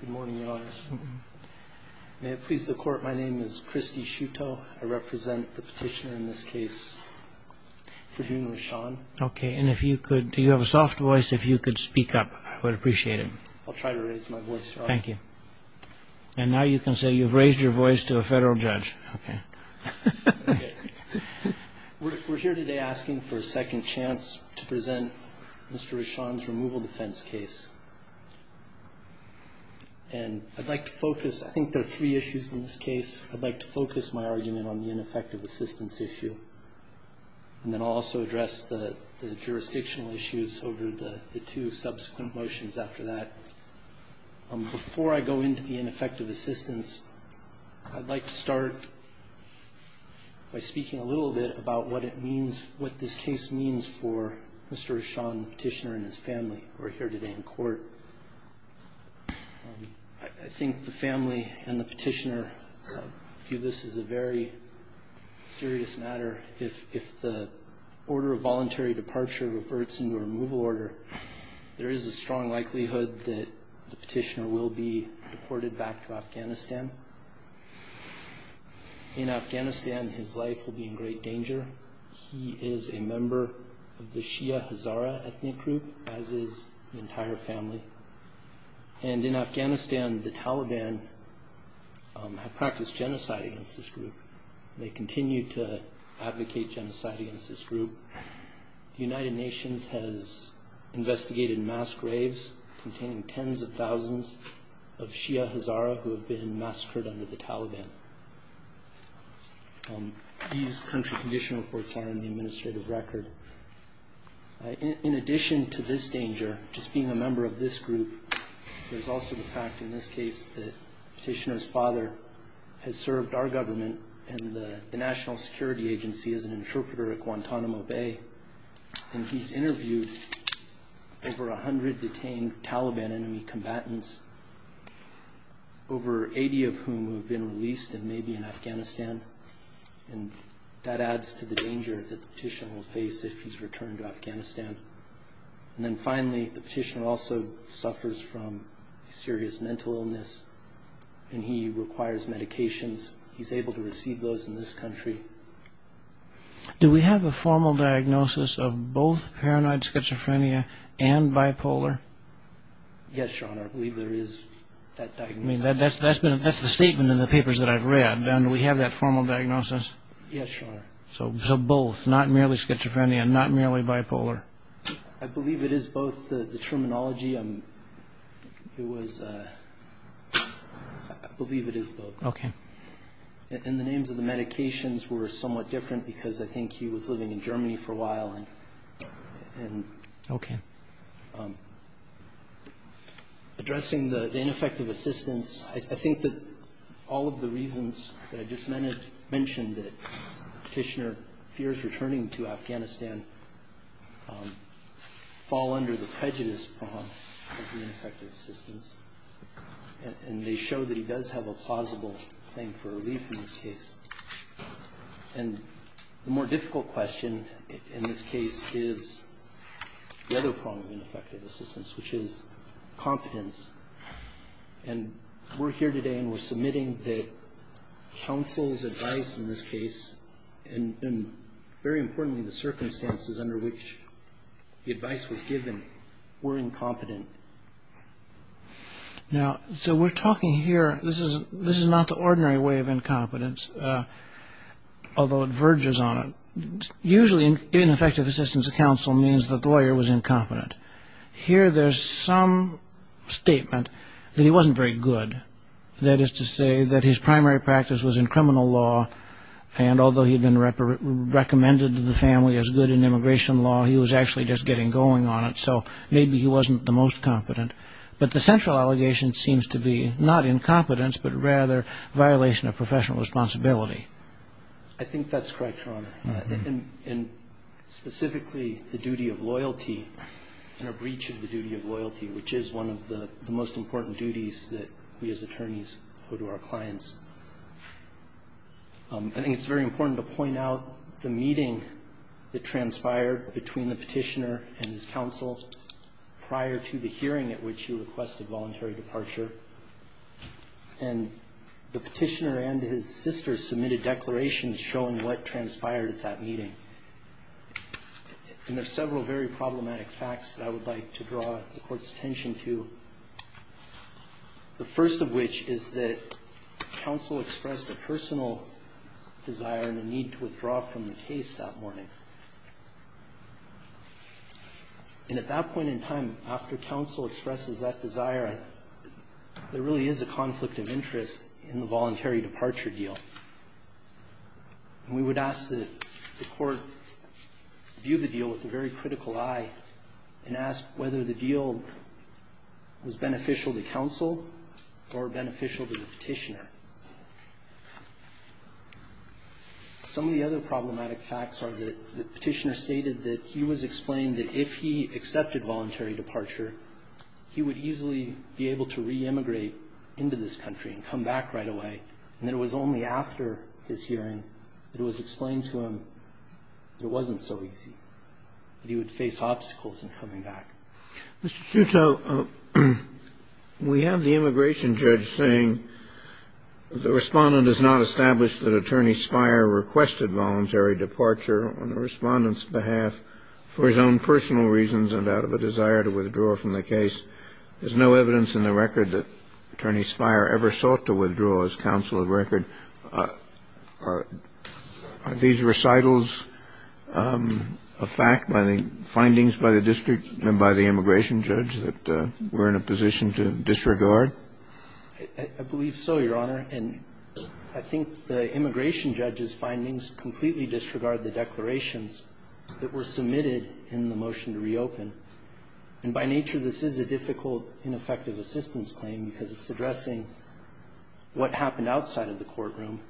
Good morning, Your Honors. May it please the Court, my name is Christy Shuto. I represent the petitioner in this case, Ferdinand Rashan. Okay, and if you could, do you have a soft voice, if you could speak up, I would appreciate it. I'll try to raise my voice, Your Honor. Thank you. And now you can say you've raised your voice to a federal judge. Okay. We're here today asking for a second chance to present Mr. Rashan's removal defense case. And I'd like to focus, I think there are three issues in this case. I'd like to focus my argument on the ineffective assistance issue. And then I'll also address the jurisdictional issues over the two subsequent motions after that. Before I go into the ineffective assistance, I'd like to start by speaking a little bit about what it means, what this case means for Mr. Rashan, the petitioner, and his family who are here today in court. I think the family and the petitioner view this as a very serious matter. If the order of voluntary departure reverts into a removal order, there is a strong likelihood that the petitioner will be deported back to Afghanistan. In Afghanistan, his life will be in great danger. He is a member of the Shia Hazara ethnic group, as is the entire family. And in Afghanistan, the Taliban have practiced genocide against this group. They continue to advocate genocide against this group. The United Nations has investigated mass graves containing tens of thousands of Shia Hazara who have been massacred under the Taliban. These country condition reports are in the administrative record. In addition to this danger, just being a member of this group, there's also the fact in this case that the petitioner's father has served our government and the National Security Agency as an interpreter at Guantanamo Bay. And he's interviewed over 100 detained Taliban enemy combatants, over 80 of whom have been released and may be in Afghanistan. And that adds to the danger that the petitioner will face if he's returned to Afghanistan. And then finally, the petitioner also suffers from serious mental illness, and he requires medications. He's able to receive those in this country. Do we have a formal diagnosis of both paranoid schizophrenia and bipolar? Yes, Your Honor, I believe there is that diagnosis. That's the statement in the papers that I've read. Yes, Your Honor. So both, not merely schizophrenia and not merely bipolar. I believe it is both. The terminology, it was, I believe it is both. Okay. And the names of the medications were somewhat different because I think he was living in Germany for a while. Okay. Addressing the ineffective assistance, I think that all of the reasons that I just mentioned, that petitioner fears returning to Afghanistan, fall under the prejudice prong of ineffective assistance. And they show that he does have a plausible claim for relief in this case. And the more difficult question in this case is the other prong of ineffective assistance, which is competence. And we're here today and we're submitting that counsel's advice in this case, and very importantly the circumstances under which the advice was given, were incompetent. Now, so we're talking here, this is not the ordinary way of incompetence, although it verges on it. Usually, ineffective assistance of counsel means that the lawyer was incompetent. Here there's some statement that he wasn't very good. That is to say that his primary practice was in criminal law, and although he had been recommended to the family as good in immigration law, he was actually just getting going on it. So maybe he wasn't the most competent. But the central allegation seems to be not incompetence, but rather violation of professional responsibility. I think that's correct, Your Honor. And specifically the duty of loyalty and a breach of the duty of loyalty, which is one of the most important duties that we as attorneys owe to our clients. I think it's very important to point out the meeting that transpired between the Petitioner and his counsel prior to the hearing at which he requested voluntary departure. And the Petitioner and his sister submitted declarations showing what transpired at that meeting. And there's several very problematic facts that I would like to draw the Court's attention to, the first of which is that counsel expressed a personal desire and a need to withdraw from the case that morning. And at that point in time, after counsel expresses that desire, there really is a conflict of interest in the voluntary departure deal. And we would ask that the Court view the deal with a very critical eye and ask whether the deal was beneficial to counsel or beneficial to the Petitioner. Some of the other problematic facts are that the Petitioner stated that he was explained that if he accepted voluntary departure, he would easily be able to re-immigrate into this country and come back right away. And it was only after his hearing that it was explained to him it wasn't so easy, that he would face obstacles in coming back. Mr. Chuteau, we have the immigration judge saying the Respondent has not established that Attorney Spire requested voluntary departure on the Respondent's behalf for his own personal reasons and out of a desire to withdraw from the case. There's no evidence in the record that Attorney Spire ever sought to withdraw as counsel of record. Are these recitals a fact by the findings by the district and by the immigration judge that we're in a position to disregard? I believe so, Your Honor. And I think the immigration judge's findings completely disregard the declarations that were submitted in the motion to reopen. And by nature, this is a difficult, ineffective assistance claim because it's addressing what happened outside of the courtroom.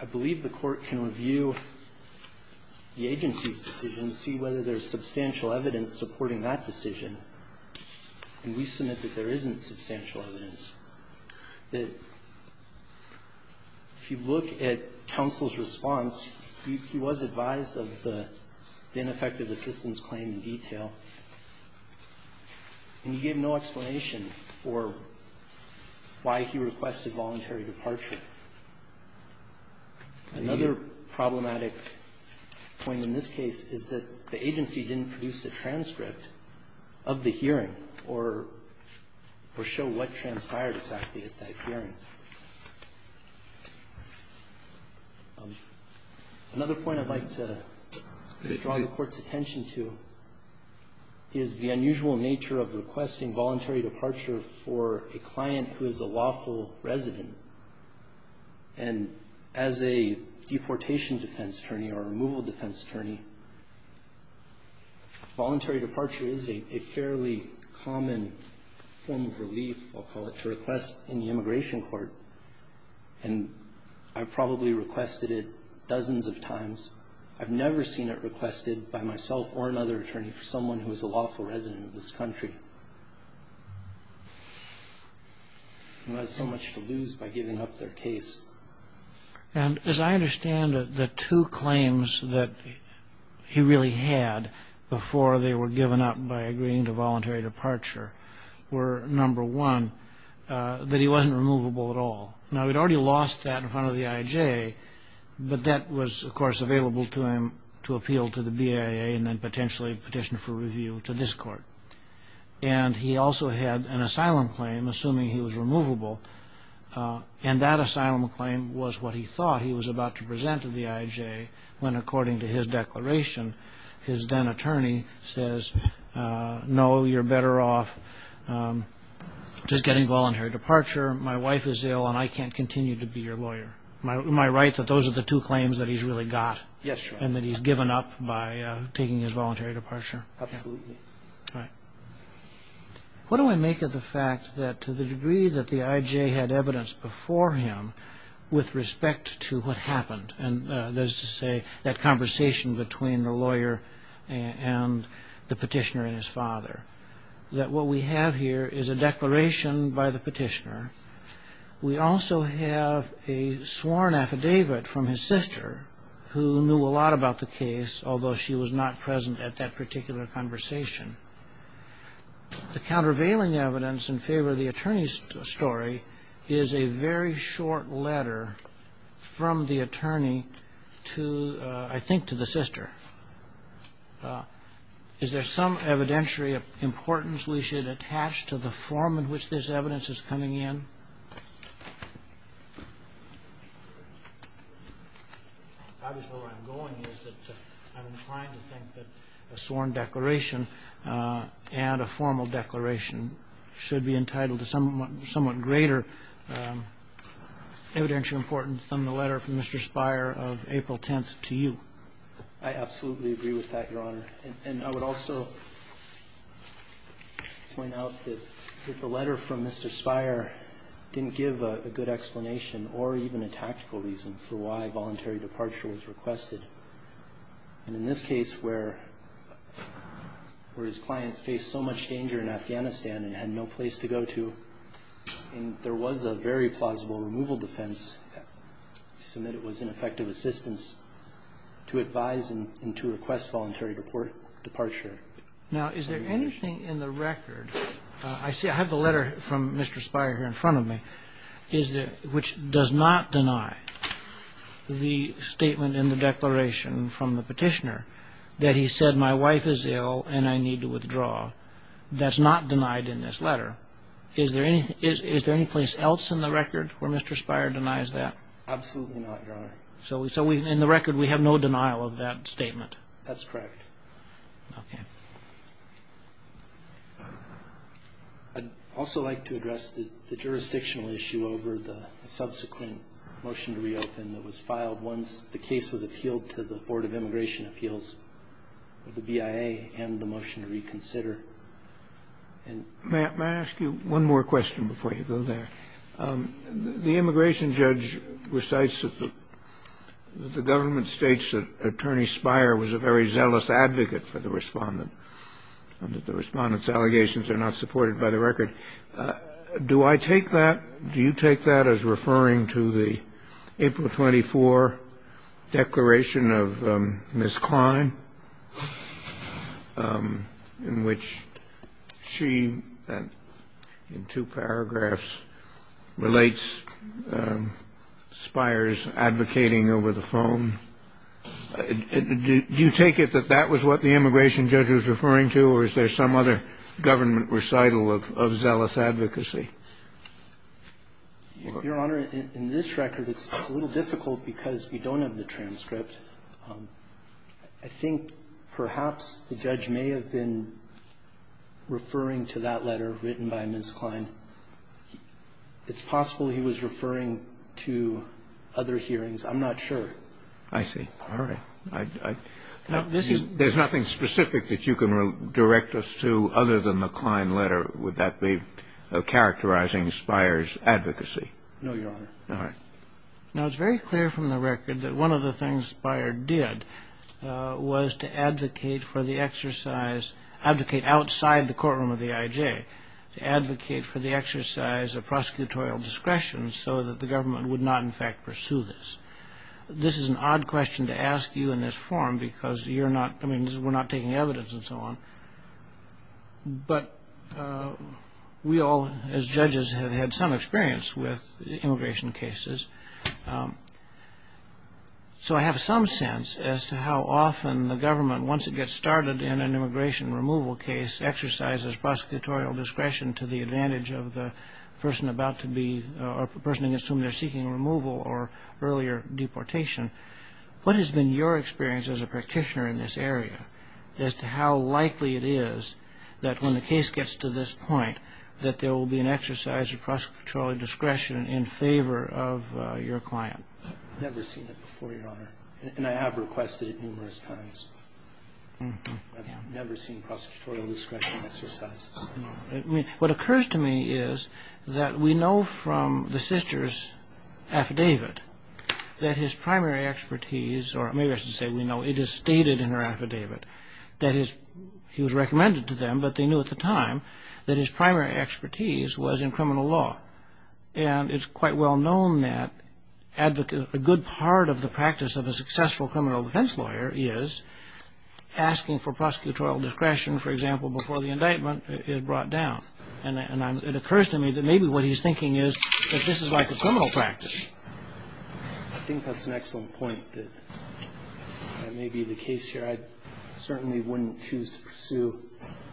I believe the Court can review the agency's decision to see whether there's substantial evidence supporting that decision. And we submit that there isn't substantial evidence. If you look at counsel's response, he was advised of the ineffective assistance claim in detail. And he gave no explanation for why he requested voluntary departure. Another problematic point in this case is that the agency didn't produce a transcript of the hearing or show what transpired exactly at that hearing. Another point I'd like to draw the Court's attention to is the fact that the agency is the unusual nature of requesting voluntary departure for a client who is a lawful resident. And as a deportation defense attorney or a removal defense attorney, voluntary departure is a fairly common form of relief, I'll call it, to request in the immigration court. And I've probably requested it dozens of times. I've never seen it requested by myself or another attorney for someone who is a lawful resident of this country. They have so much to lose by giving up their case. And as I understand it, the two claims that he really had before they were given up by agreeing to voluntary departure were, number one, that he wasn't removable at all. Now, he'd already lost that in front of the IJA, but that was, of course, available to him to appeal to the BIA and then potentially petition for review to this Court. And he also had an asylum claim, assuming he was removable, and that asylum claim was what he thought he was about to present to the IJA when, according to his declaration, his then-attorney says, no, you're better off just getting voluntary departure. My wife is ill and I can't continue to be your lawyer. Am I right that those are the two claims that he's really got? Yes, Your Honor. And that he's given up by taking his voluntary departure? Absolutely. All right. What do I make of the fact that to the degree that the IJA had evidence before him with respect to what happened, and there's to say that conversation between the lawyer and the petitioner and his father, that what we have here is a declaration by the petitioner. We also have a sworn affidavit from his sister, who knew a lot about the case, although she was not present at that particular conversation. The countervailing evidence in favor of the attorney's story is a very short letter from the attorney to, I think, to the sister. Is there some evidentiary importance we should attach to the form in which this evidence is coming in? Obviously where I'm going is that I'm inclined to think that a sworn declaration and a formal declaration should be entitled to somewhat greater evidentiary importance than the letter from Mr. Speier of April 10th to you. I absolutely agree with that, Your Honor. And I would also point out that the letter from Mr. Speier didn't give a good explanation or even a tactical reason for why voluntary departure was requested. And in this case where his client faced so much danger in Afghanistan and had no place to go to, there was a very plausible removal defense, so that it was an effective assistance to advise and to request voluntary departure. Now, is there anything in the record, I see I have the letter from Mr. Speier here in front of me, which does not deny the statement in the declaration from the petitioner that he said my wife is ill and I need to withdraw? That's not denied in this letter. Is there any place else in the record where Mr. Speier denies that? Absolutely not, Your Honor. So in the record we have no denial of that statement? That's correct. Okay. I'd also like to address the jurisdictional issue over the subsequent motion to reopen that was filed once the case was appealed to the Board of Immigration Appeals, the BIA, and the motion to reconsider. May I ask you one more question before you go there? The immigration judge recites that the government states that Attorney Speier was a very zealous advocate for the Respondent and that the Respondent's allegations are not supported by the record. Do I take that, do you take that as referring to the April 24 declaration of Ms. Klein, in which she, in two paragraphs, relates Speier's advocating over the phone? Do you take it that that was what the immigration judge was referring to, or is there some other government recital of zealous advocacy? Your Honor, in this record, it's a little difficult because you don't have the transcript. I think perhaps the judge may have been referring to that letter written by Ms. Klein. It's possible he was referring to other hearings. I'm not sure. I see. All right. There's nothing specific that you can direct us to other than the Klein letter. Would that be characterizing Speier's advocacy? No, Your Honor. All right. Now, it's very clear from the record that one of the things Speier did was to advocate for the exercise, advocate outside the courtroom of the IJ, to advocate for the exercise of prosecutorial discretion so that the government would not, in fact, pursue this. This is an odd question to ask you in this forum because we're not taking evidence and so on. But we all, as judges, have had some experience with immigration cases. So I have some sense as to how often the government, once it gets started in an immigration removal case, exercises prosecutorial discretion to the advantage of the person about to be or the person against whom they're seeking removal or earlier deportation. What has been your experience as a practitioner in this area as to how likely it is that when the case gets to this point that there will be an exercise of prosecutorial discretion in favor of your client? I've never seen it before, Your Honor, and I have requested it numerous times. I've never seen prosecutorial discretion exercised. What occurs to me is that we know from the sister's affidavit that his primary expertise, or maybe I should say we know it is stated in her affidavit that he was recommended to them, but they knew at the time that his primary expertise was in criminal law. And it's quite well known that a good part of the practice of a successful criminal defense lawyer is asking for prosecutorial discretion, for example, before the indictment is brought down. And it occurs to me that maybe what he's thinking is that this is like a criminal practice. I think that's an excellent point. That may be the case here. I certainly wouldn't choose to pursue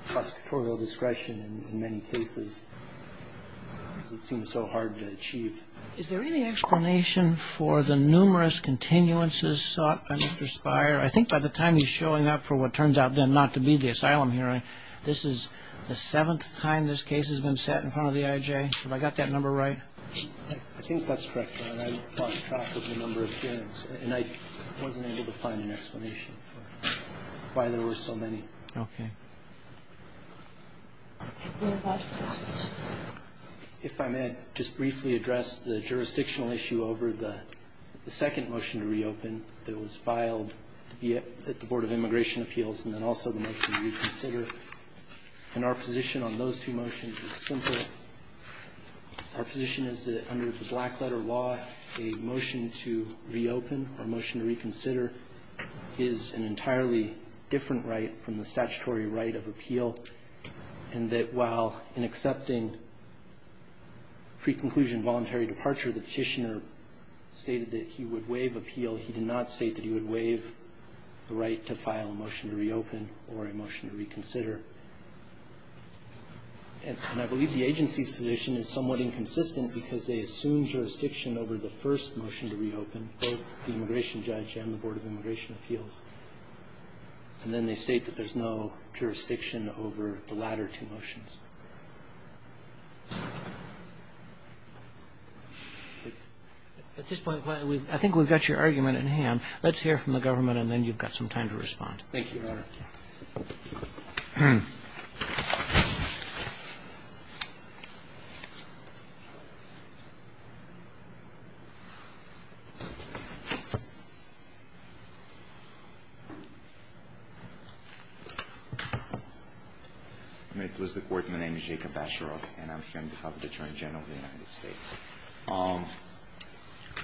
prosecutorial discretion in many cases. It seems so hard to achieve. Is there any explanation for the numerous continuances sought by Mr. Speier? I think by the time he's showing up for what turns out then not to be the asylum hearing, this is the seventh time this case has been set in front of the IJ. Have I got that number right? I think that's correct, Your Honor. I lost track of the number of hearings, and I wasn't able to find an explanation for why there were so many. Okay. Any other questions? If I may just briefly address the jurisdictional issue over the second motion to reopen that was filed at the Board of Immigration Appeals and then also the motion to reconsider. And our position on those two motions is simple. Our position is that under the Blackletter law, a motion to reopen or a motion to reconsider is an entirely different right from the statutory right of appeal, and that while in accepting pre-conclusion voluntary departure, the petitioner stated that he would waive appeal, he did not state that he would waive the right to file a motion to reopen or a motion to reconsider. And I believe the agency's position is somewhat inconsistent because they assume jurisdiction over the first motion to reopen, both the immigration judge and the Board of Immigration Appeals. And then they state that there's no jurisdiction over the latter two motions. At this point, I think we've got your argument in hand. Let's hear from the government, and then you've got some time to respond. Thank you, Your Honor. Thank you. May it please the Court, my name is Jacob Basharoff, and I'm here on behalf of the Attorney General of the United States.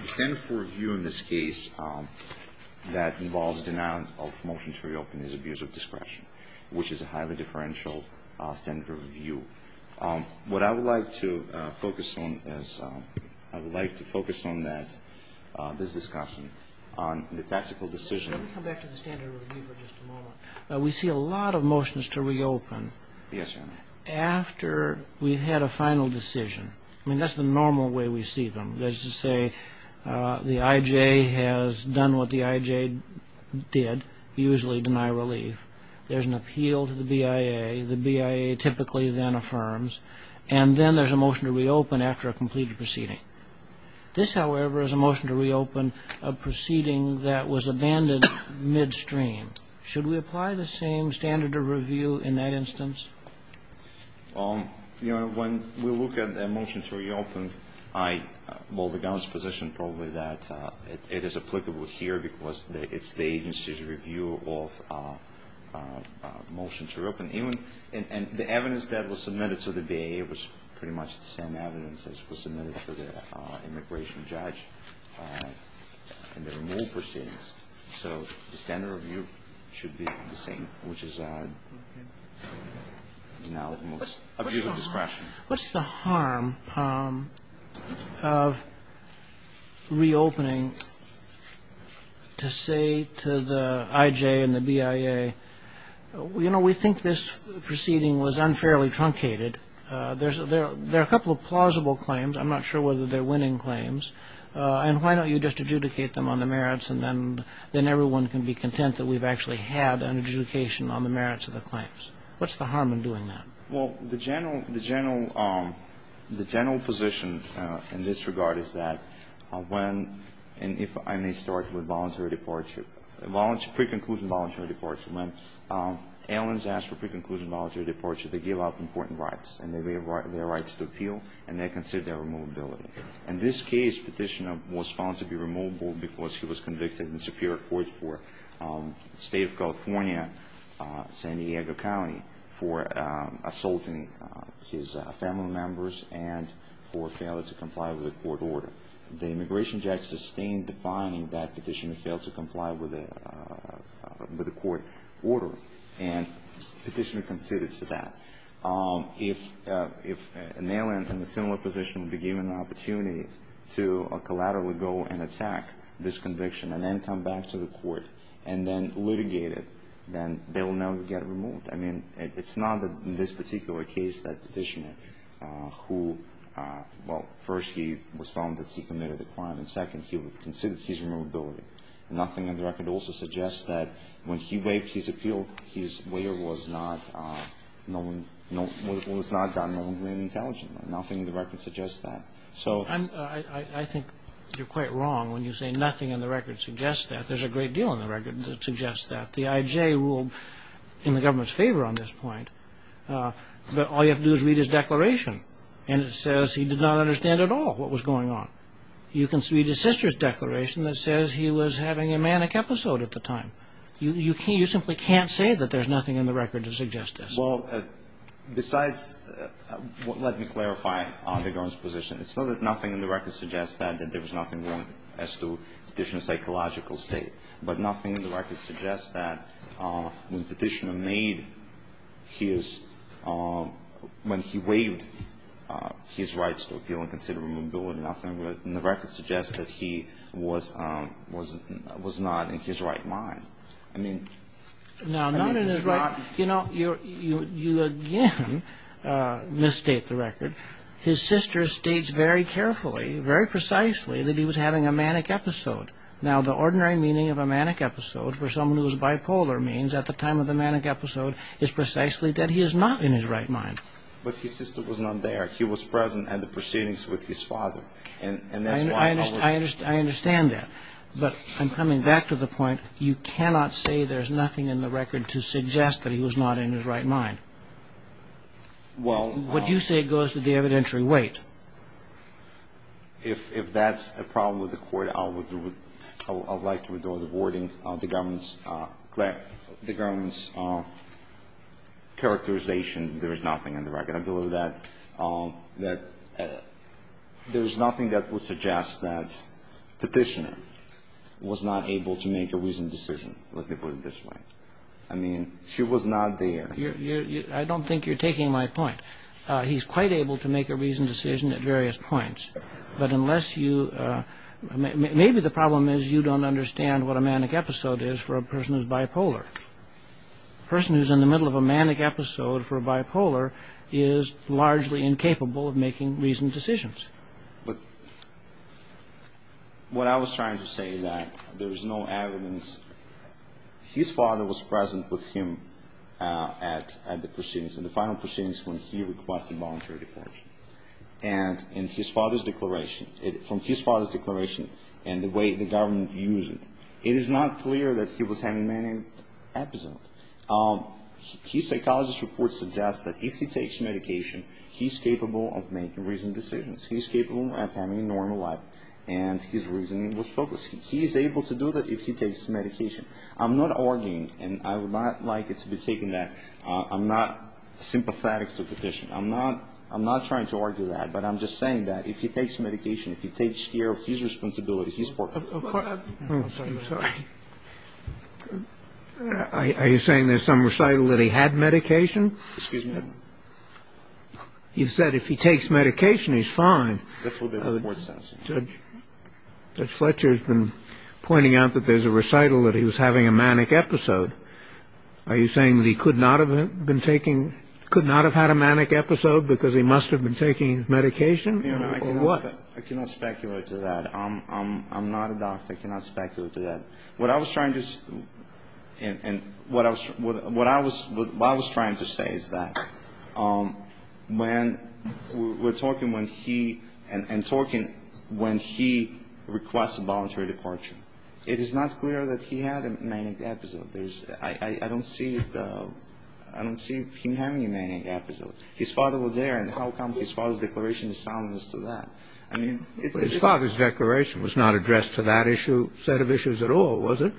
The standard for review in this case that involves denial of motion to reopen is abuse of discretion, which is a highly differential standard of review. What I would like to focus on is I would like to focus on that, this discussion, on the tactical decision. Let me come back to the standard of review for just a moment. We see a lot of motions to reopen after we've had a final decision. I mean, that's the normal way we see them. That is to say the IJ has done what the IJ did, usually deny relief. There's an appeal to the BIA. The BIA typically then affirms. And then there's a motion to reopen after a completed proceeding. This, however, is a motion to reopen a proceeding that was abandoned midstream. Should we apply the same standard of review in that instance? You know, when we look at a motion to reopen, I hold the government's position probably that it is applicable here because it's the agency's review of a motion to reopen. And the evidence that was submitted to the BIA was pretty much the same evidence as was submitted to the immigration judge in the removal proceedings. So the standard of review should be the same, which is now the most of your discretion. What's the harm of reopening to say to the IJ and the BIA, you know, we think this proceeding was unfairly truncated. There are a couple of plausible claims. I'm not sure whether they're winning claims. And why don't you just adjudicate them on the merits, and then everyone can be content that we've actually had an adjudication on the merits of the claims. What's the harm in doing that? Well, the general position in this regard is that when, and if I may start with voluntary departure, pre-conclusion voluntary departure, when aliens ask for pre-conclusion voluntary departure, they give up important rights. And they have their rights to appeal, and they consider their removability. In this case, Petitioner was found to be removable because he was convicted in Superior Court for the State of California, San Diego County, for assaulting his family members and for failure to comply with a court order. The immigration judge sustained defying that Petitioner failed to comply with a court order, and Petitioner conceded to that. If an alien in a similar position would be given the opportunity to collaterally go and attack this conviction and then come back to the court and then litigate it, then they will now get removed. I mean, it's not that in this particular case that Petitioner, who, well, first he was found that he committed a crime, and second, he would consider his removability. Nothing on the record also suggests that when he waived his appeal, his waiver was not done knowingly and intelligently. Nothing on the record suggests that. So I think you're quite wrong when you say nothing on the record suggests that. There's a great deal on the record that suggests that. The I.J. ruled in the government's favor on this point. But all you have to do is read his declaration, and it says he did not understand at all what was going on. You can read his sister's declaration that says he was having a manic episode at the time. You can't, you simply can't say that there's nothing on the record to suggest this. Well, besides, let me clarify the government's position. It's not that nothing on the record suggests that, that there was nothing wrong as to Petitioner's psychological state. But nothing on the record suggests that when Petitioner made his, when he waived his rights to appeal and consider removability, nothing on the record suggests that he was not in his right mind. I mean, I mean, it's not. Now, not in his right, you know, you again misstate the record. His sister states very carefully, very precisely that he was having a manic episode. Now, the ordinary meaning of a manic episode for someone who is bipolar means at the time of the manic episode is precisely that he is not in his right mind. But his sister was not there. He was present at the proceedings with his father. And that's why I was. I understand that. But I'm coming back to the point, you cannot say there's nothing in the record to suggest that he was not in his right mind. Well. What you say goes to the evidentiary weight. If that's a problem with the Court, I would like to withdraw the wording of the government's, the government's characterization, there is nothing on the record. I believe that there is nothing that would suggest that petitioner was not able to make a reasoned decision. Let me put it this way. I mean, she was not there. I don't think you're taking my point. He's quite able to make a reasoned decision at various points. But unless you, maybe the problem is you don't understand what a manic episode is for a person who's bipolar. A person who's in the middle of a manic episode for a bipolar is largely incapable of making reasoned decisions. But what I was trying to say is that there is no evidence. His father was present with him at the proceedings, at the final proceedings when he requested voluntary deportation. And in his father's declaration, from his father's declaration and the way the government views it, it is not clear that he was having a manic episode. His psychologist's report suggests that if he takes medication, he's capable of making reasoned decisions. He's capable of having a normal life. And his reasoning was focused. He's able to do that if he takes medication. I'm not arguing, and I would not like it to be taken that I'm not sympathetic to the petition. I'm not trying to argue that. But I'm just saying that if he takes medication, if he takes care of his responsibility, he's poor. I'm sorry. I'm sorry. Are you saying there's some recital that he had medication? Excuse me? You said if he takes medication, he's fine. That's what the report says. Judge Fletcher has been pointing out that there's a recital that he was having a manic episode. Are you saying that he could not have been taking, could not have had a manic episode because he must have been taking medication or what? I cannot speculate to that. I'm not a doctor. I cannot speculate to that. What I was trying to say is that when we're talking when he and talking when he requests a voluntary departure, it is not clear that he had a manic episode. I don't see him having a manic episode. His father was there, and how come his father's declaration is soundness to that? His father's declaration was not addressed to that issue, set of issues at all, was it?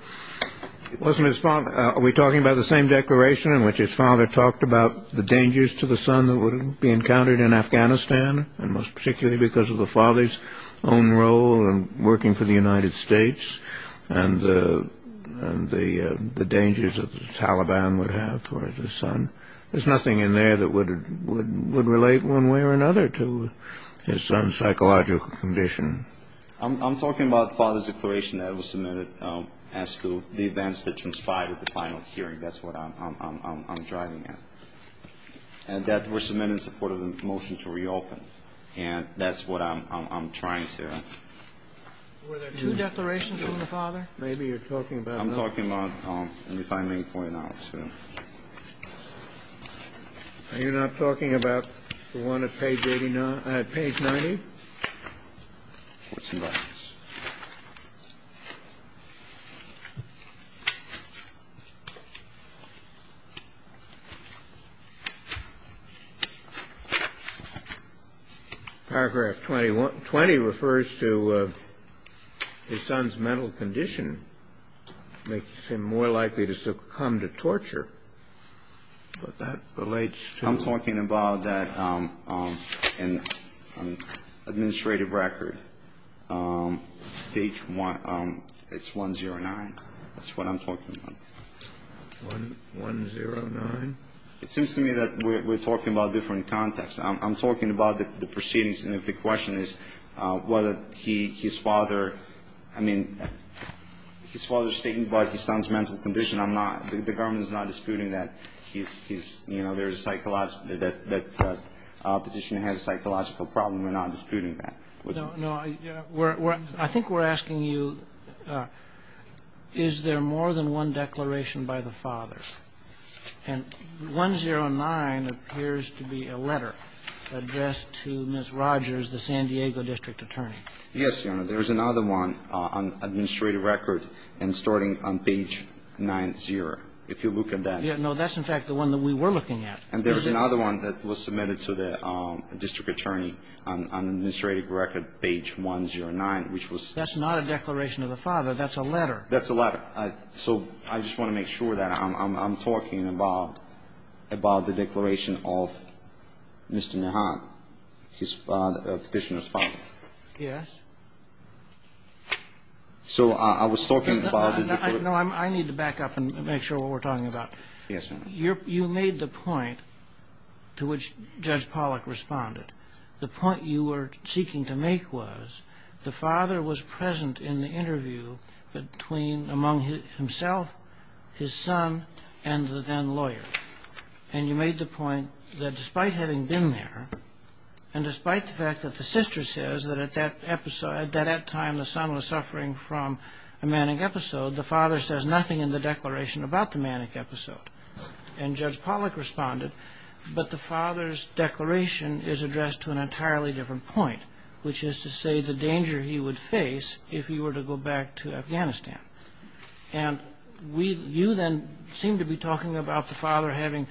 It wasn't his father. Are we talking about the same declaration in which his father talked about the dangers to the son that would be encountered in Afghanistan, and most particularly because of the father's own role in working for the United States and the dangers that the Taliban would have for his son? There's nothing in there that would relate one way or another to his son's psychological condition. I'm talking about the father's declaration that was submitted as to the events that transpired at the final hearing. That's what I'm driving at. And that was submitted in support of the motion to reopen. And that's what I'm trying to... Were there two declarations from the father? Maybe you're talking about... No, I'm not talking about any filing point, no. You're not talking about the one at page 90? Courts and Gardens. Paragraph 20 refers to his son's mental condition, makes him more likely to succumb to torture, but that relates to... That's what I'm talking about. 1-0-9? It seems to me that we're talking about different contexts. I'm talking about the proceedings, and if the question is whether his father... I mean, his father's statement about his son's mental condition, I'm not... The government is not disputing that he's... You know, there's a psychological... That petitioner has a psychological problem. We're not disputing that. I think we're asking you, is there more than one declaration by the father? And 1-0-9 appears to be a letter addressed to Ms. Rogers, the San Diego district attorney. Yes, Your Honor. There's another one on administrative record and starting on page 90, if you look at that. No, that's, in fact, the one that we were looking at. And there's another one that was submitted to the district attorney on administrative record, page 1-0-9, which was... That's not a declaration of the father. That's a letter. That's a letter. So I just want to make sure that I'm talking about the declaration of Mr. Nehan, the petitioner's father. Yes. So I was talking about... No, I need to back up and make sure what we're talking about. Yes, Your Honor. You made the point to which Judge Pollack responded. The point you were seeking to make was the father was present in the interview between, among himself, his son, and the then lawyer. And you made the point that despite having been there and despite the fact that the sister says that at that time the son was suffering from a manic episode, the father says nothing in the declaration about the manic episode. And Judge Pollack responded, but the father's declaration is addressed to an entirely different point, which is to say the danger he would face if he were to go back to Afghanistan. And you then seem to be talking about the father having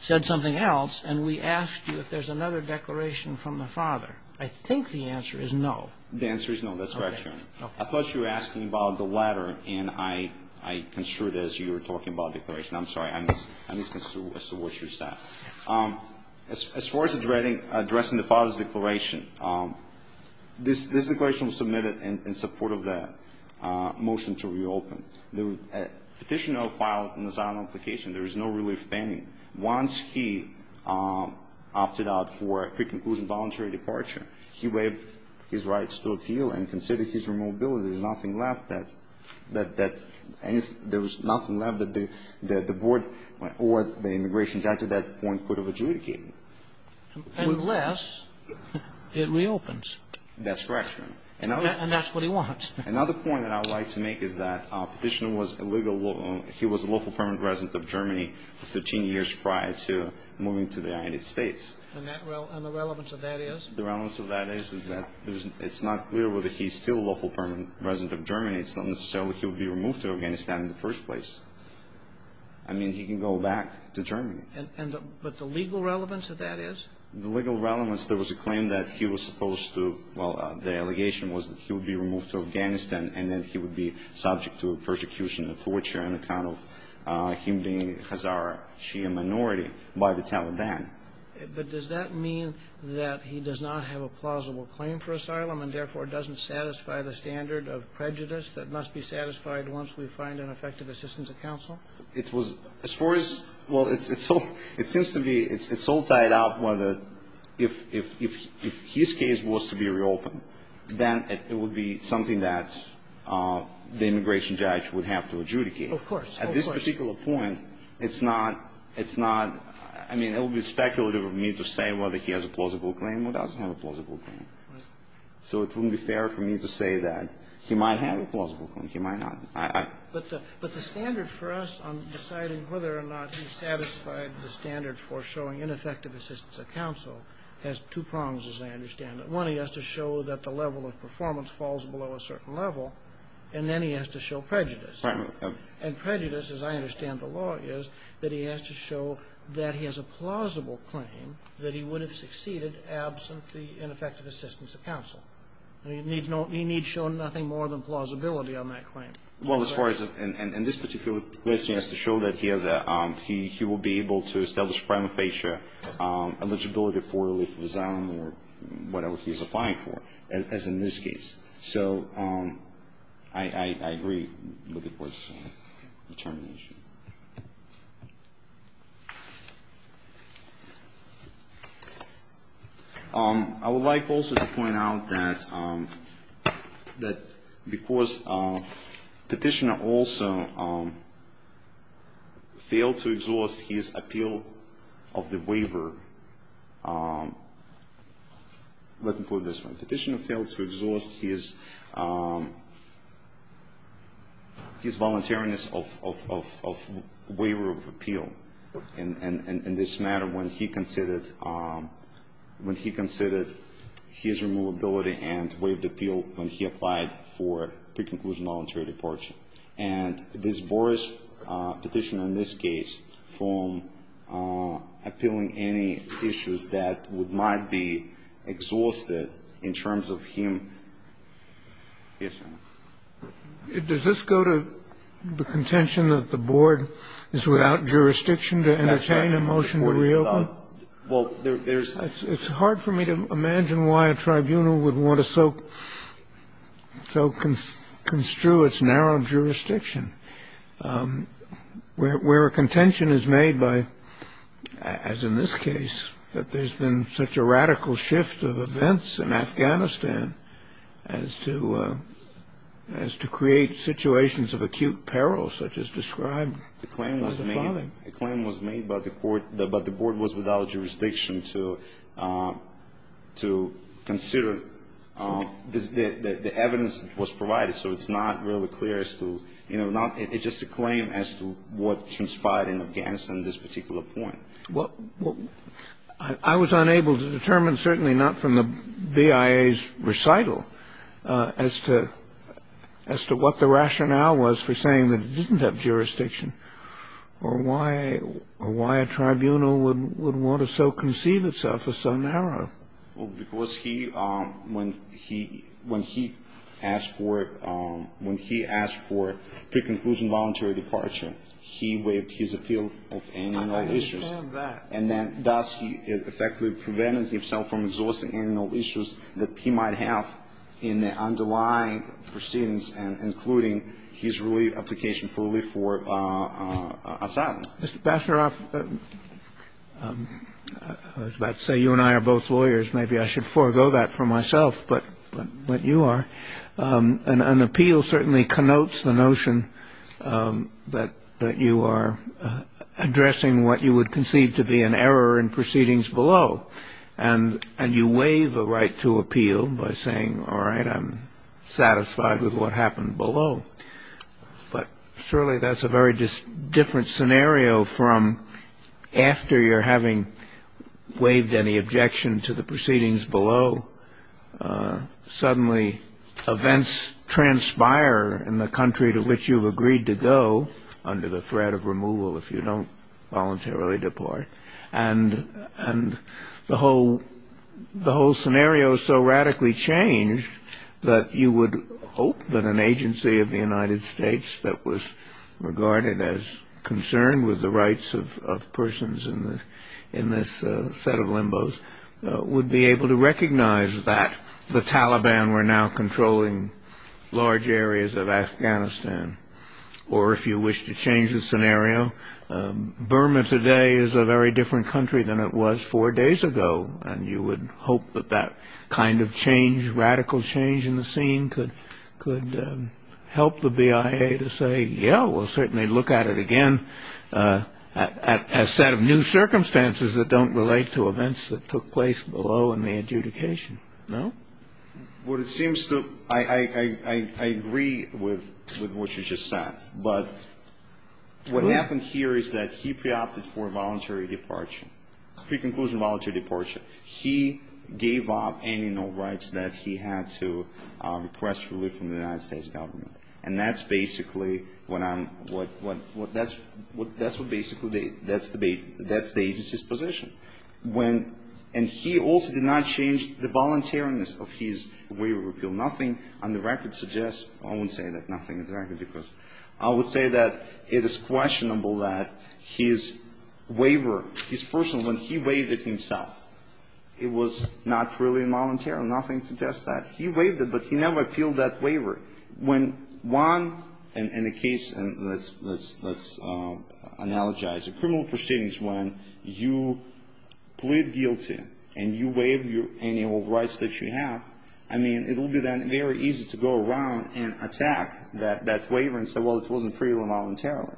said something else, and we asked you if there's another declaration from the father. I think the answer is no. The answer is no. That's correct, Your Honor. I thought you were asking about the latter, and I construed it as you were talking about a declaration. I'm sorry. I misconstrued as to what you said. As far as addressing the father's declaration, this declaration was submitted in support of the motion to reopen. The petitioner filed an asylum application. There is no relief pending. Once he opted out for a pre-conclusion voluntary departure, he waived his rights to appeal and considered his removability. There's nothing left that the board or the immigration judge at that point could have adjudicated. Unless it reopens. That's correct, Your Honor. And that's what he wants. Another point that I would like to make is that the petitioner was a local permanent resident of Germany for 13 years prior to moving to the United States. And the relevance of that is? The relevance of that is that it's not clear whether he's still a local permanent resident of Germany. It's not necessarily he would be removed to Afghanistan in the first place. I mean, he can go back to Germany. But the legal relevance of that is? The legal relevance, there was a claim that he was supposed to, well, the allegation was that he would be removed to Afghanistan and then he would be subject to persecution and torture on account of him being Hazara Shia minority by the Taliban. But does that mean that he does not have a plausible claim for asylum and, therefore, doesn't satisfy the standard of prejudice that must be satisfied once we find an effective assistance of counsel? It was, as far as, well, it seems to be, it's all tied up whether if his case was to be reopened, then it would be something that the immigration judge would have to adjudicate. Of course. Of course. At this particular point, it's not, I mean, it would be speculative of me to say whether he has a plausible claim or doesn't have a plausible claim. So it wouldn't be fair for me to say that he might have a plausible claim, he might not. But the standard for us on deciding whether or not he satisfied the standard for showing ineffective assistance of counsel has two prongs, as I understand it. One, he has to show that the level of performance falls below a certain level, and then he has to show prejudice. And prejudice, as I understand the law, is that he has to show that he has a plausible claim that he would have succeeded absent the ineffective assistance of counsel. He needs shown nothing more than plausibility on that claim. Well, as far as, and this particular question has to show that he has a, he will be able to establish prima facie eligibility for relief of asylum or whatever he is applying for, as in this case. So I agree with the Court's determination. I would like also to point out that because Petitioner also failed to exhaust his appeal of the waiver, let me put it this way, Petitioner failed to exhaust his, his voluntariness of the waiver. He failed to exhaust waiver of appeal in this matter when he considered, when he considered his removability and waived appeal when he applied for pre-conclusion voluntary departure. And this Boar's petition in this case, from appealing any issues that might be exhausted Does this go to the contention that the Board is without jurisdiction to entertain a motion to reopen? That's right. Well, there's It's hard for me to imagine why a tribunal would want to so construe its narrow jurisdiction. Where a contention is made by, as in this case, that there's been such a radical shift of events in Afghanistan as to, as to create situations of acute peril such as described by the father. The claim was made, the claim was made by the Board, but the Board was without jurisdiction to, to consider the evidence that was provided. So it's not really clear as to, you know, not, it's just a claim as to what transpired in Afghanistan at this particular point. I was unable to determine, certainly not from the BIA's recital, as to, as to what the rationale was for saying that it didn't have jurisdiction. Or why, or why a tribunal would want to so conceive itself as so narrow. Well, because he, when he, when he asked for, when he asked for pre-conclusion voluntary departure, he waived his appeal of any and all issues. I understand that. And then, thus, he effectively prevented himself from exhausting any and all issues that he might have in the underlying proceedings, including his relief, application for relief for Assad. Mr. Basharov, I was about to say you and I are both lawyers. Maybe I should forego that for myself, but you are. An appeal certainly connotes the notion that, that you are addressing what you would conceive to be an error in proceedings below. And, and you waive a right to appeal by saying, all right, I'm satisfied with what happened below. But surely that's a very different scenario from after you're having waived any objection to the proceedings below. Suddenly, events transpire in the country to which you've agreed to go under the threat of removal if you don't voluntarily depart. And, and the whole, the whole scenario is so radically changed that you would hope that an agency of the United States that was regarded as concerned with the rights of persons in the, in this set of limbo's, would be able to recognize that the Taliban were now controlling large areas of Afghanistan. Or if you wish to change the scenario, Burma today is a very different country than it was four days ago. And you would hope that that kind of change, radical change in the scene could, could help the BIA to say, yeah, we'll certainly look at it again. A set of new circumstances that don't relate to events that took place below in the adjudication. No? Well, it seems to, I, I, I, I agree with, with what you just said. But what happened here is that he pre-opted for voluntary departure. Pre-conclusion voluntary departure. He gave up any and all rights that he had to request relief from the United States government. And that's basically what I'm, what, what, what, that's, what, that's what basically they, that's the, that's the agency's position. When, and he also did not change the voluntariness of his waiver repeal. Nothing on the record suggests, I won't say that nothing is on the record, because I would say that it is questionable that his waiver, his personal, when he waived it himself, it was not freely involuntary. Nothing suggests that. He waived it, but he never appealed that waiver. When one, and, and the case, and let's, let's, let's analogize it. Criminal proceedings when you plead guilty and you waive your, any and all rights that you have, I mean, it will be then very easy to go around and attack that, that waiver and say, well, it wasn't freely voluntary.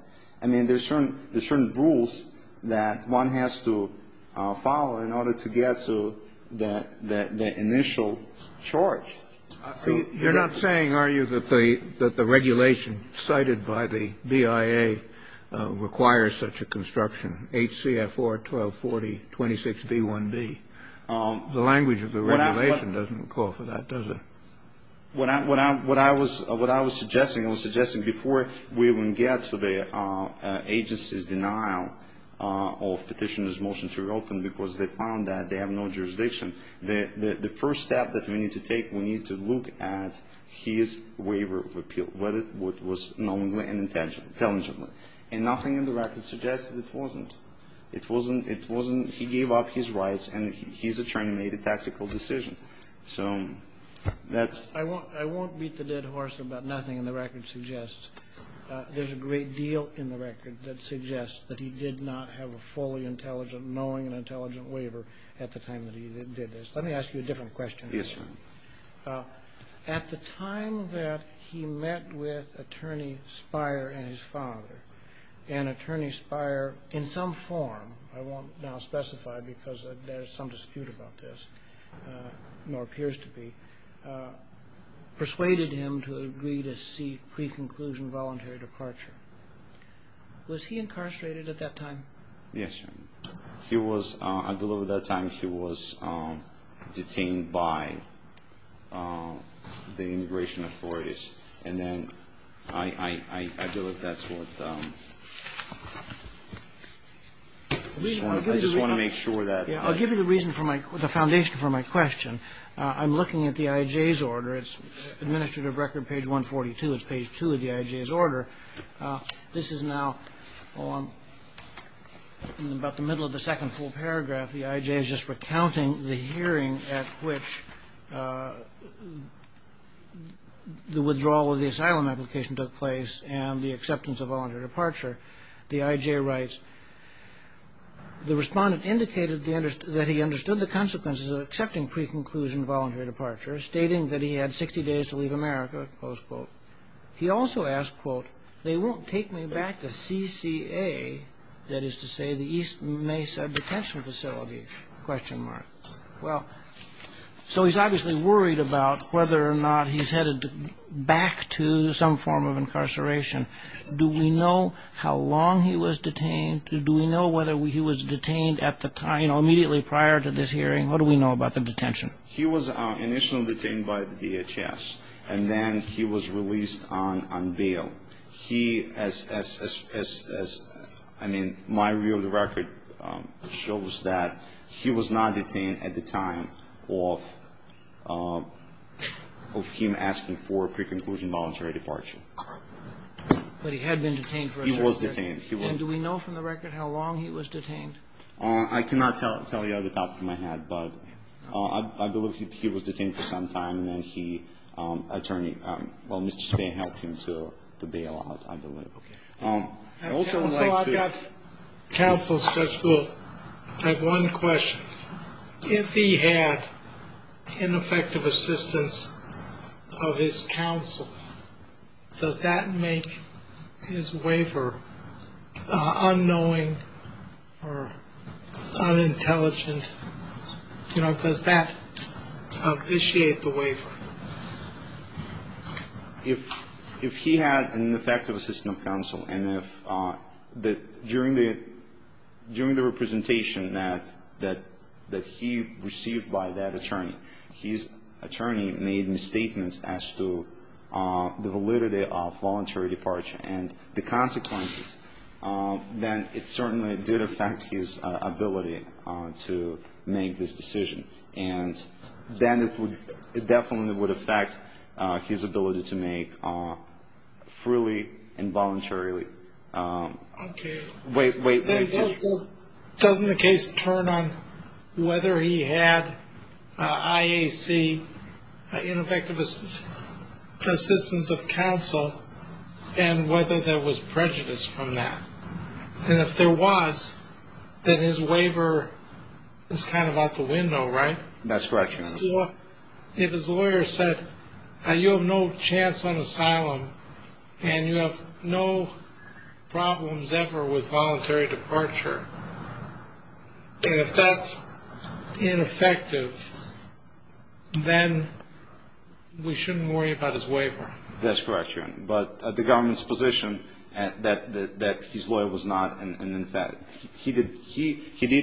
I mean, there's certain, there's certain rules that one has to follow in order to get to the, the, the initial charge. See, you're not saying, are you, that the, that the regulation cited by the BIA requires such a construction, HCFR 124026B1B, the language of the regulation doesn't call for that, does it? What I, what I, what I was, what I was suggesting, I was suggesting before we even get to the agency's denial of Petitioner's motion to reopen, because they found that they have no jurisdiction, the, the, the first step that we need to take, we need to look at his waiver of appeal, whether it was knowingly and intelligently. And nothing in the record suggests that it wasn't. It wasn't, it wasn't, he gave up his rights, and his attorney made a tactical decision. So that's the point. I won't, I won't beat the dead horse about nothing in the record suggests. There's a great deal in the record that suggests that he did not have a fully intelligent, knowing and intelligent waiver at the time that he did this. Let me ask you a different question. Yes, Your Honor. At the time that he met with Attorney Spire and his father, and Attorney Spire, in some form, I won't now specify because there's some dispute about this, nor appears to be, persuaded him to agree to seek pre-conclusion voluntary departure. Was he incarcerated at that time? Yes, Your Honor. He was, I believe at that time he was detained by the immigration authorities. And then I believe that's what, I just want to make sure that. I'll give you the reason for my, the foundation for my question. I'm looking at the IJ's order. It's administrative record page 142, it's page 2 of the IJ's order. This is now in about the middle of the second full paragraph. The IJ is just recounting the hearing at which the withdrawal of the asylum application took place and the acceptance of voluntary departure. The IJ writes, The respondent indicated that he understood the consequences of accepting pre-conclusion voluntary departure, stating that he had 60 days to leave America, close quote. He also asked, quote, they won't take me back to CCA, that is to say the East Mesa Detention Facility, question mark. Well, so he's obviously worried about whether or not he's headed back to some form of incarceration. Do we know how long he was detained? Do we know whether he was detained at the time, you know, immediately prior to this hearing? What do we know about the detention? He was initially detained by the DHS, and then he was released on bail. He, as I mean, my review of the record shows that he was not detained at the time of him asking for pre-conclusion voluntary departure. But he had been detained for a certain period. He was detained. And do we know from the record how long he was detained? I cannot tell you off the top of my head. But I believe he was detained for some time, and then he, attorney, well, Mr. Spain helped him to bail out, I believe. Okay. I also would like to. Counsel, Judge Gould, I have one question. If he had ineffective assistance of his counsel, does that make his waiver unknowing or unintelligent? You know, does that initiate the waiver? If he had ineffective assistance of counsel and if during the representation that he received by that attorney, his attorney made misstatements as to the validity of voluntary departure and the consequences, then it certainly did affect his ability to make this decision. And then it definitely would affect his ability to make freely and voluntarily. Okay. Wait, wait, wait. Doesn't the case turn on whether he had IAC, ineffective assistance of counsel, and whether there was prejudice from that? And if there was, then his waiver is kind of out the window, right? That's correct, Your Honor. So if his lawyer said, you have no chance on asylum, and you have no problems ever with voluntary departure, and if that's ineffective, then we shouldn't worry about his waiver. That's correct, Your Honor. But the government's position that his lawyer was not, and in fact, he did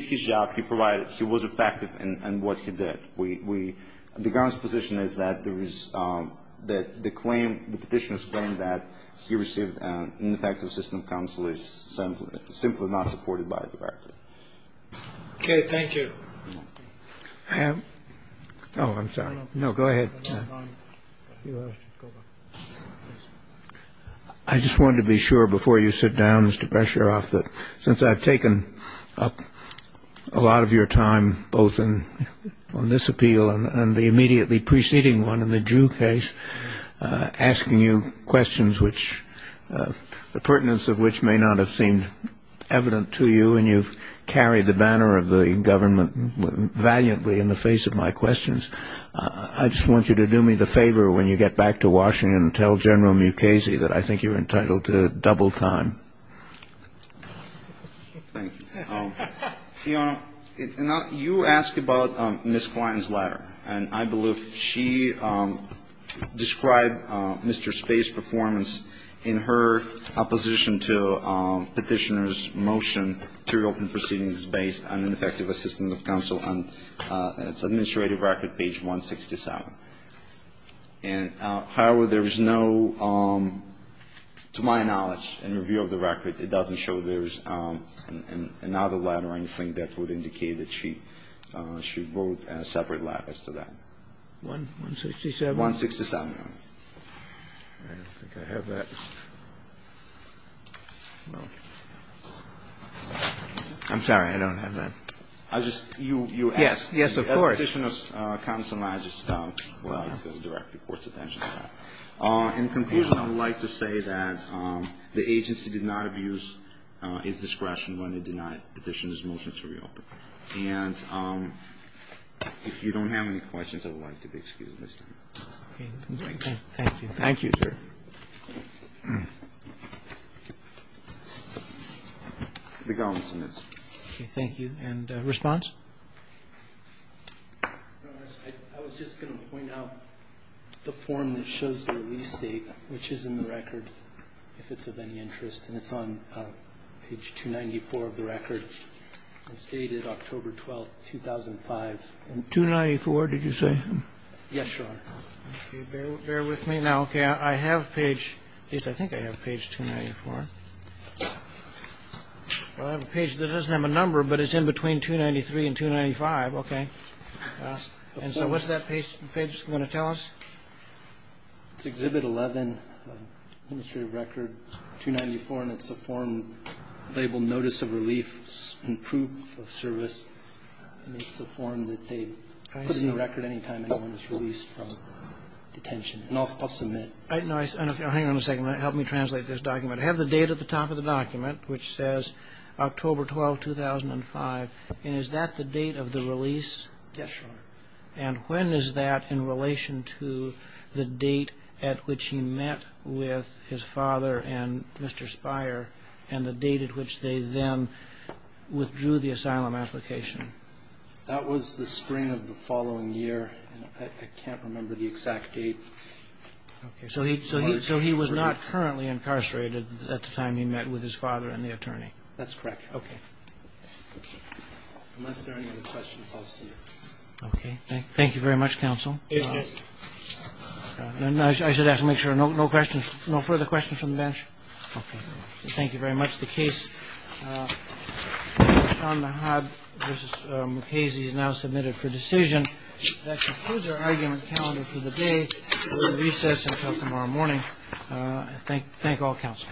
his job. He provided. He was effective in what he did. The government's position is that the claim, the petitioner's claim that he received ineffective assistance of counsel is simply not supported by the record. Okay. Thank you. Oh, I'm sorry. No, go ahead. I just wanted to be sure before you sit down, Mr. Bresheroff, that since I've taken up a lot of your time both on this appeal and the immediately preceding one in the Jew case, asking you questions which the pertinence of which may not have seemed evident to you, and you've carried the banner of the government valiantly in the face of my questions, I just want you to do me the favor when you get back to Washington and tell General Mukasey that I think you're entitled to double time. Thank you. Your Honor, you asked about Ms. Klein's letter, and I believe she described Mr. Space's performance in her opposition to petitioner's motion and three open proceedings based on ineffective assistance of counsel on its administrative record, page 167. And, however, there is no, to my knowledge, in review of the record, it doesn't show there's another letter or anything that would indicate that she wrote a separate letter as to that. 167? 167, Your Honor. I don't think I have that. I'm sorry. I don't have that. I just, you asked. Yes, of course. As petitioner's counsel, I just would like to direct the Court's attention to that. In conclusion, I would like to say that the agency did not abuse its discretion when it denied petitioner's motion to reopen. And if you don't have any questions, I would like to be excused this time. Okay. Thank you. Thank you, sir. Any questions? Okay. Thank you. The galvanizer is up. Okay, thank you. And response? I was just going to point out the form that shows the release date, which is in the record, if it's of any interest. It's on page 294 of the record. It stated October 12, 2005. 294, did you say? Yes, your Honor. Okay, bear with me now. Okay, I have page, at least I think I have page 294. Well, I have a page that doesn't have a number, but it's in between 293 and 295. Okay. And so what's that page going to tell us? It's Exhibit 11, Administrative Record 294, and it's a form labeled Notice of Relief and Proof of Service. And it's a form that they put in the record any time anyone is released from detention. And I'll submit. Hang on a second. Help me translate this document. I have the date at the top of the document, which says October 12, 2005. And is that the date of the release? Yes, your Honor. And when is that in relation to the date at which he met with his father and Mr. Speier and the date at which they then withdrew the asylum application? That was the spring of the following year. I can't remember the exact date. So he was not currently incarcerated at the time he met with his father and the attorney? That's correct. Okay. Unless there are any other questions, I'll see you. Okay. Thank you very much, Counsel. It's good. I should ask to make sure no questions, no further questions from the bench. Okay. Thank you very much. The case, Sean Nahab v. Mukasey, is now submitted for decision. That concludes our argument calendar for the day. We'll recess until tomorrow morning. Thank all counsel.